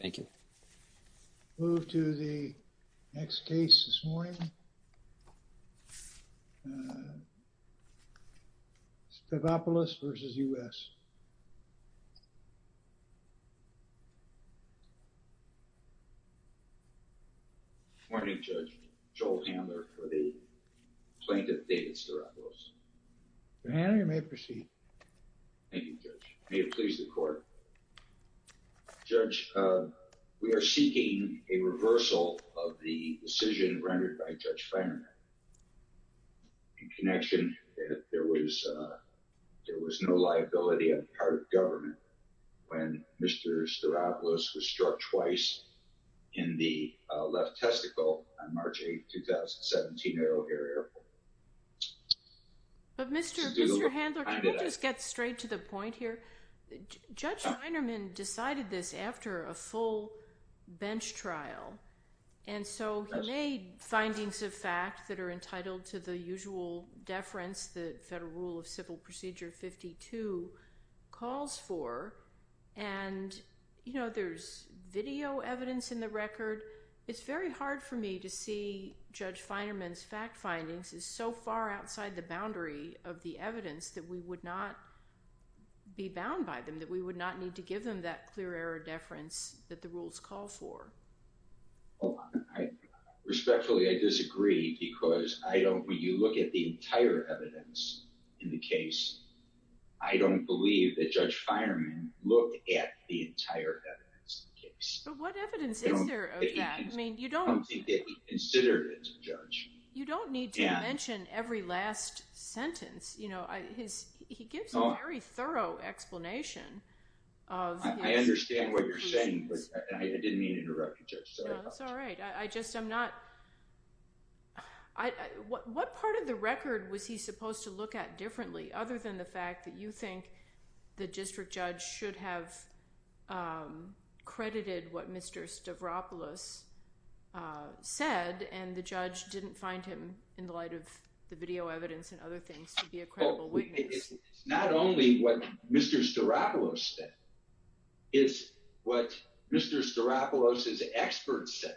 Thank you. Move to the next case this morning, Stavropoulos v. U.S. Good morning, Judge. Joel Handler for the plaintiff, David Stavropoulos. Mr. Handler, you may proceed. Thank you, Judge. May it please the court. Judge, we are seeking a reversal of the decision rendered by Judge Feinerman. In connection, there was no liability on the part of government when Mr. Stavropoulos was struck twice in the left testicle on March 8, 2017, at O'Hare Airport. But, Mr. Handler, can we just get straight to the point here? Judge Feinerman decided this after a full bench trial. And so he made findings of fact that are entitled to the usual deference the Federal Rule of Civil Procedure 52 calls for. And there's video evidence in the record. It's very hard for me to see Judge Feinerman's fact findings. It's so far outside the boundary of the evidence that we would not be bound by them, that we would not need to give them that clear error deference that the rules call for. Respectfully, I disagree. Because when you look at the entire evidence in the case, I don't believe that Judge Feinerman looked at the entire evidence in the case. But what evidence is there of that? I mean, you don't. It's something that he considered as a judge. You don't need to mention every last sentence. He gives a very thorough explanation of his conclusions. I understand what you're saying. But I didn't mean to interrupt you, Judge. No, that's all right. I just am not. What part of the record was he supposed to look at differently, other than the fact that you think the district judge should have credited what Mr. Stavropoulos said, and the judge didn't find him in the light of the video evidence and other things to be a credible witness? Not only what Mr. Stavropoulos said, it's what Mr. Stavropoulos' experts said.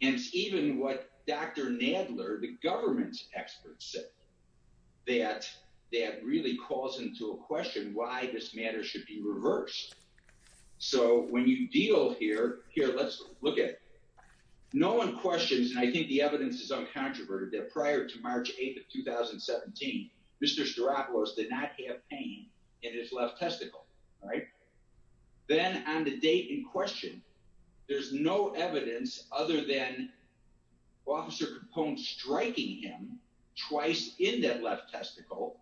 And it's even what Dr. Nadler, the government's expert, said, that that really calls into a question why this matter should be reversed. So when you deal here, here, let's look at it. No one questions, and I think the evidence is uncontroverted, that prior to March 8th of 2017, Mr. Stavropoulos did not have pain in his left testicle. Then on the date in question, there's no evidence other than Officer Capone striking him twice in that left testicle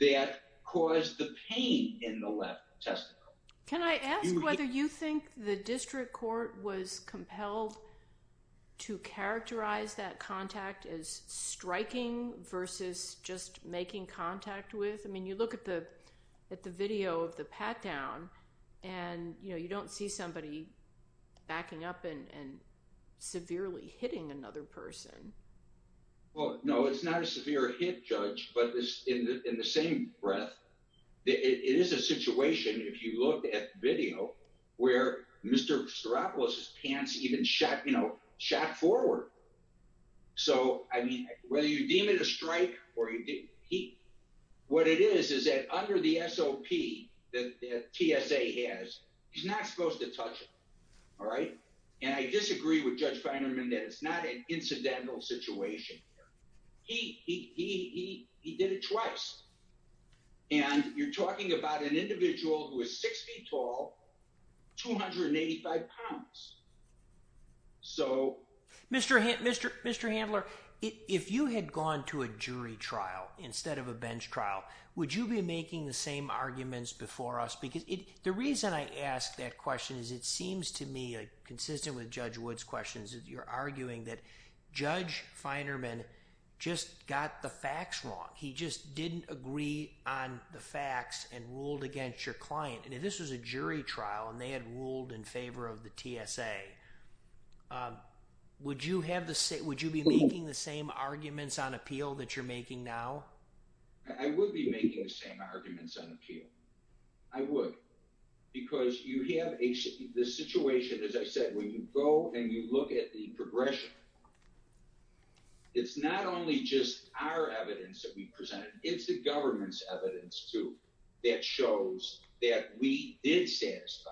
that caused the pain in the left testicle. Can I ask whether you think the district court was compelled to characterize that contact as striking versus just making contact with? I mean, you look at the video of the pat-down, and you don't see somebody backing up and severely hitting another person. Well, no, it's not a severe hit, Judge, but in the same breath, it is a situation, if you look at video, where Mr. Stavropoulos' pants even shot forward. So I mean, whether you deem it a strike or you deem it a hit, what it is is that under the SOP that TSA has, he's not supposed to touch him, all right? And I disagree with Judge Feinerman that it's not an incidental situation here. He did it twice, and you're talking about an individual who is six feet tall, 285 pounds. So Mr. Handler, if you had gone to a jury trial instead of a bench trial, would you be making the same arguments before us? Because the reason I ask that question is it seems to me, consistent with Judge Wood's questions, that you're arguing that Judge Feinerman just got the facts wrong. He just didn't agree on the facts and ruled against your client. And if this was a jury trial, and they had ruled in favor of the TSA, would you be making the same arguments on appeal that you're making now? I would be making the same arguments on appeal. I would. Because you have this situation, as I said, when you go and you look at the progression, it's not only just our evidence that we presented. It's the government's evidence, too, that shows that we did satisfy,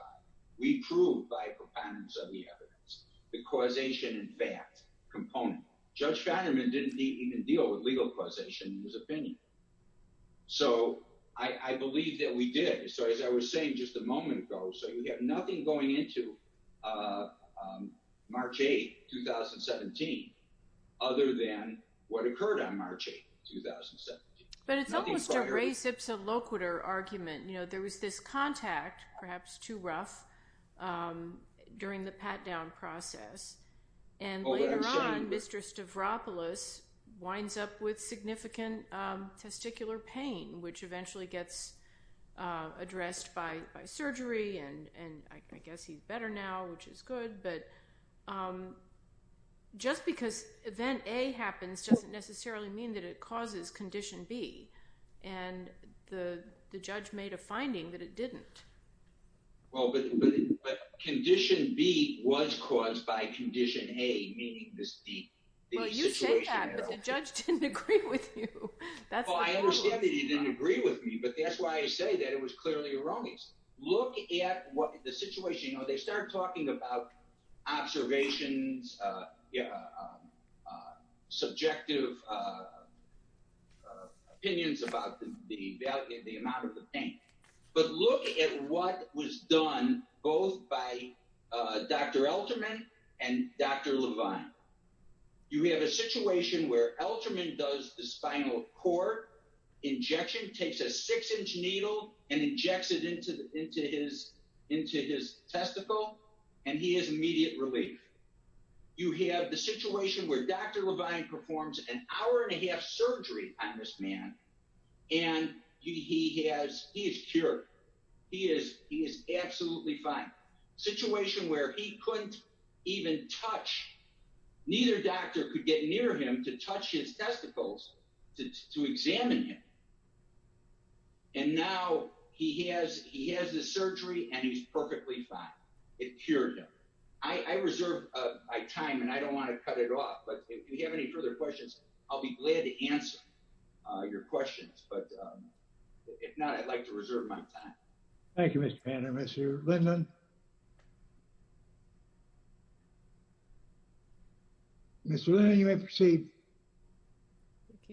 we proved by proponents of the evidence, the causation and fact component. Judge Feinerman didn't even deal with legal causation in his opinion. So I believe that we did. So as I was saying just a moment ago, so you have nothing going into March 8, 2017, other than what occurred on March 8, 2017. But it's almost a res ipsa loquitur argument. There was this contact, perhaps too rough, during the pat-down process. And later on, Mr. Stavropoulos winds up with significant testicular pain, which eventually gets addressed by surgery. And I guess he's better now, which is good. But just because event A happens doesn't necessarily mean that it causes condition B. And the judge made a finding that it didn't. Well, but condition B was caused by condition A, meaning this D-B situation. Well, you say that, but the judge didn't agree with you. Well, I understand that he didn't agree with me. But that's why I say that it was clearly a wrong case. Look at the situation. They start talking about observations, subjective opinions about the amount of the pain. But look at what was done both by Dr. Elterman and Dr. Levine. You have a situation where Elterman does the spinal cord injection, takes a six-inch needle, and injects it into his testicle. And he has immediate relief. You have the situation where Dr. Levine performs an hour and a half surgery on this man. And he is cured. He is absolutely fine. Situation where he couldn't even touch. Neither doctor could get near him to touch his testicles to examine him. And now he has the surgery, and he's perfectly fine. It cured him. I reserve my time, and I don't want to cut it off. But if you have any further questions, I'll be glad to answer your questions. But if not, I'd like to reserve my time. Thank you, Mr. Bannon. Mr. Linden. Mr. Linden, you may proceed.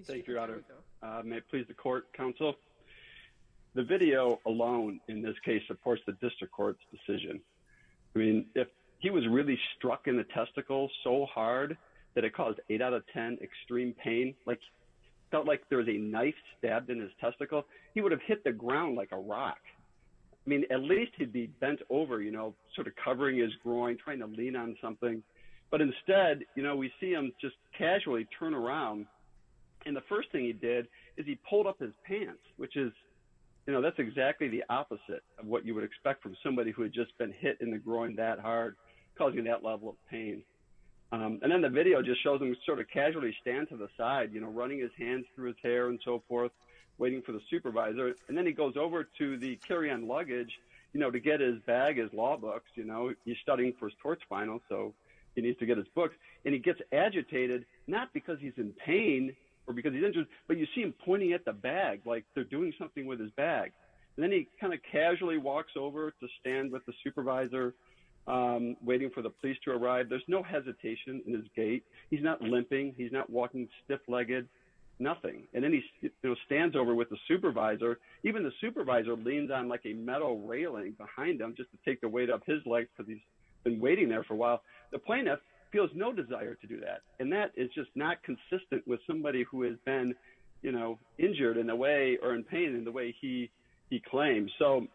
Thank you, Your Honor. May it please the court, counsel? The video alone, in this case, supports the district court's decision. I mean, if he was really struck in the testicle so hard that it caused 8 out of 10 extreme pain, like felt like there was a knife stabbed in his testicle, he would have hit the ground like a rock. I mean, at least he'd be bent over, sort of covering his groin, trying to lean on something. But instead, we see him just casually turn around. And the first thing he did is he pulled up his pants, which is exactly the opposite of what you would expect from somebody who had just been hit in the groin that hard, causing that level of pain. And then the video just shows him sort of casually stand to the side, running his hands through his hair and so forth, waiting for the supervisor. And then he goes over to the carry-on luggage, you know, to get his bag, his law books. You know, he's studying for his torts final, so he needs to get his books. And he gets agitated, not because he's in pain or because he's injured, but you see him pointing at the bag, like they're doing something with his bag. And then he kind of casually walks over to stand with the supervisor, waiting for the police to arrive. There's no hesitation in his gait. He's not limping. He's not walking stiff-legged, nothing. And then he stands over with the supervisor. Even the supervisor leans on like a metal railing behind him just to take the weight up his legs because he's been waiting there for a while. The plaintiff feels no desire to do that. And that is just not consistent with somebody who has been, you know, injured in a way, or in pain in the way he claims. So,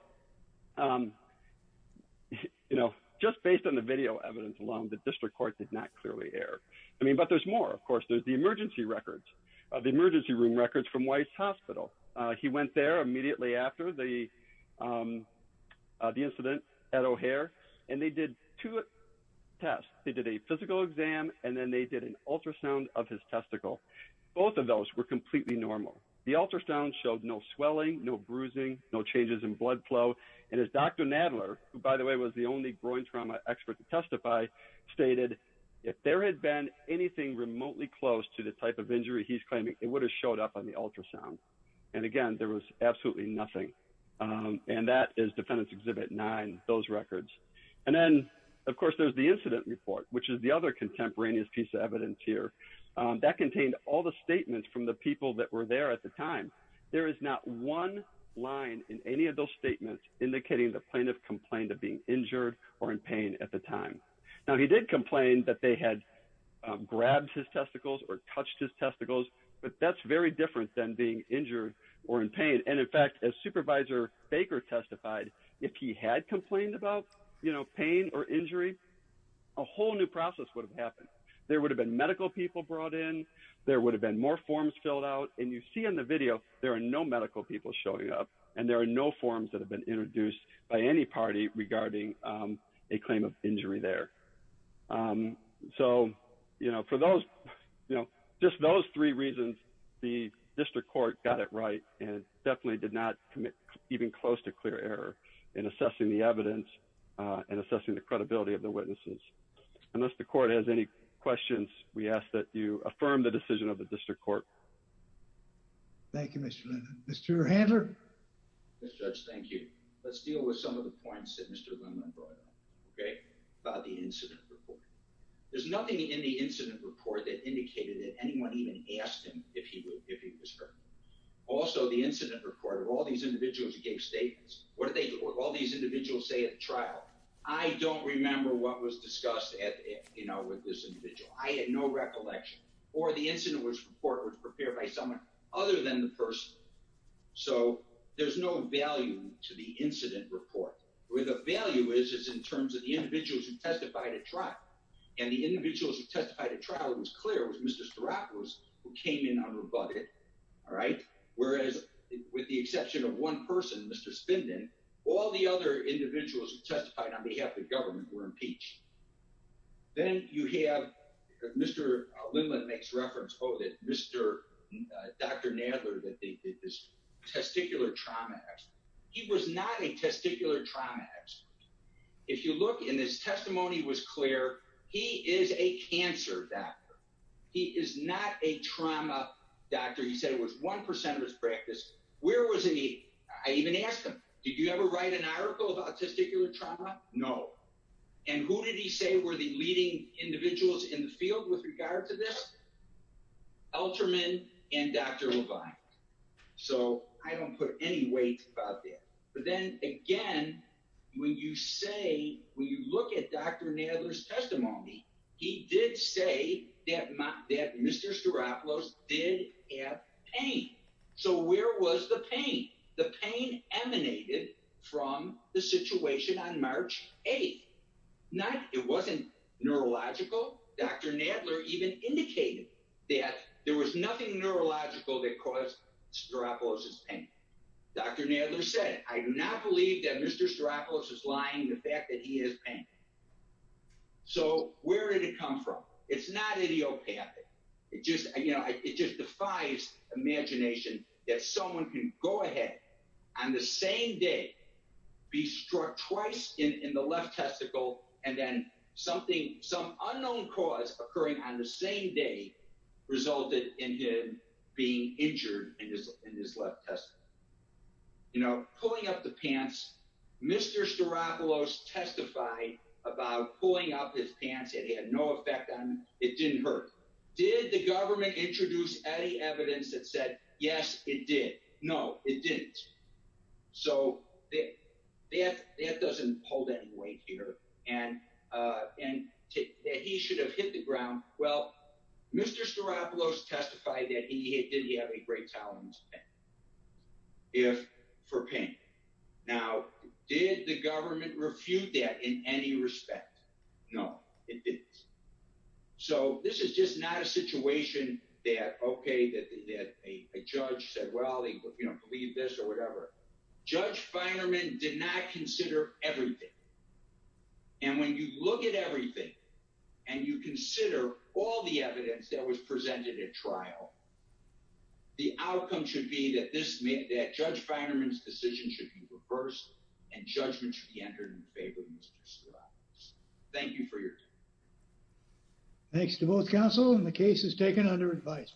you know, just based on the video evidence alone, the district court did not clearly err. I mean, but there's more, of course. There's the emergency records. The emergency room records from Weiss Hospital. He went there immediately after the incident at O'Hare, and they did two tests. They did a physical exam, and then they did an ultrasound of his testicle. Both of those were completely normal. The ultrasound showed no swelling, no bruising, no changes in blood flow. And as Dr. Nadler, who, by the way, was the only groin trauma expert to testify, stated if there had been anything remotely close to the type of injury he's claiming, it would have showed up on the ultrasound. And again, there was absolutely nothing. And that is Defendant's Exhibit 9, those records. And then, of course, there's the incident report, which is the other contemporaneous piece of evidence here. That contained all the statements from the people that were there at the time. There is not one line in any of those statements indicating the plaintiff complained of being injured or in pain at the time. Now, he did complain that they had grabbed his testicles or touched his testicles, but that's very different than being injured or in pain. And in fact, as Supervisor Baker testified, if he had complained about pain or injury, a whole new process would have happened. There would have been medical people brought in, there would have been more forms filled out. And you see in the video, there are no medical people showing up, and there are no forms that have been introduced by any party regarding a claim of injury there. So, you know, for those, you know, just those three reasons, the district court got it right and definitely did not commit even close to clear error in assessing the evidence and assessing the credibility of the witnesses. Unless the court has any questions, we ask that you affirm the decision of the district court. Thank you, Mr. Linden. Mr. Handler. Mr. Judge, thank you. Let's deal with some of the points that Mr. Linden brought up, okay? About the incident report. There's nothing in the incident report that indicated that anyone even asked him if he was hurt. Also, the incident report, of all these individuals who gave statements, what did all these individuals say at the trial? I don't remember what was discussed with this individual. I had no recollection. Or the incident report was prepared by someone other than the person. So there's no value to the incident report. Where the value is, is in terms of the individuals who testified at trial. And the individuals who testified at trial, it was clear, was Mr. Staropoulos, who came in unrebutted, all right? Whereas, with the exception of one person, Mr. Spindon, all the other individuals who testified on behalf of the government were impeached. Then you have, Mr. Linden makes reference, oh, that Dr. Nadler, that they did this testicular trauma accident. He was not a testicular trauma expert. If you look, and his testimony was clear, he is a cancer doctor. He is not a trauma doctor. He said it was 1% of his practice. Where was he? I even asked him, did you ever write an article about testicular trauma? No. And who did he say were the leading individuals in the field with regard to this? Alterman and Dr. Levine. So I don't put any weight about that. But then again, when you say, when you look at Dr. Nadler's testimony, he did say that Mr. Staropoulos did have pain. So where was the pain? The pain emanated from the situation on March 8th. Not, it wasn't neurological. Dr. Nadler even indicated that there was nothing neurological that caused Staropoulos's pain. Dr. Nadler said, I do not believe that Mr. Staropoulos is lying, the fact that he has pain. So where did it come from? It's not idiopathic. It just, you know, it just defies imagination that someone can go ahead on the same day, be struck twice in the left testicle, and then something, some unknown cause occurring on the same day resulted in him being injured in his left testicle. You know, pulling up the pants, Mr. Staropoulos testified about pulling up his pants. It had no effect on him. It didn't hurt. Did the government introduce any evidence that said, yes, it did? No, it didn't. So that doesn't hold any weight here. And that he should have hit the ground. Well, Mr. Staropoulos testified that he did have a great tolerance for pain. Now, did the government refute that in any respect? No, it didn't. So this is just not a situation that, okay, that a judge said, well, if you don't believe this or whatever. Judge Finerman did not consider everything. And when you look at everything and you consider all the evidence that was presented at trial, the outcome should be that this, that Judge Finerman's decision should be reversed and judgment should be entered in favor of Mr. Staropoulos. Thank you for your time. Thanks to both counsel and the case is taken under advice.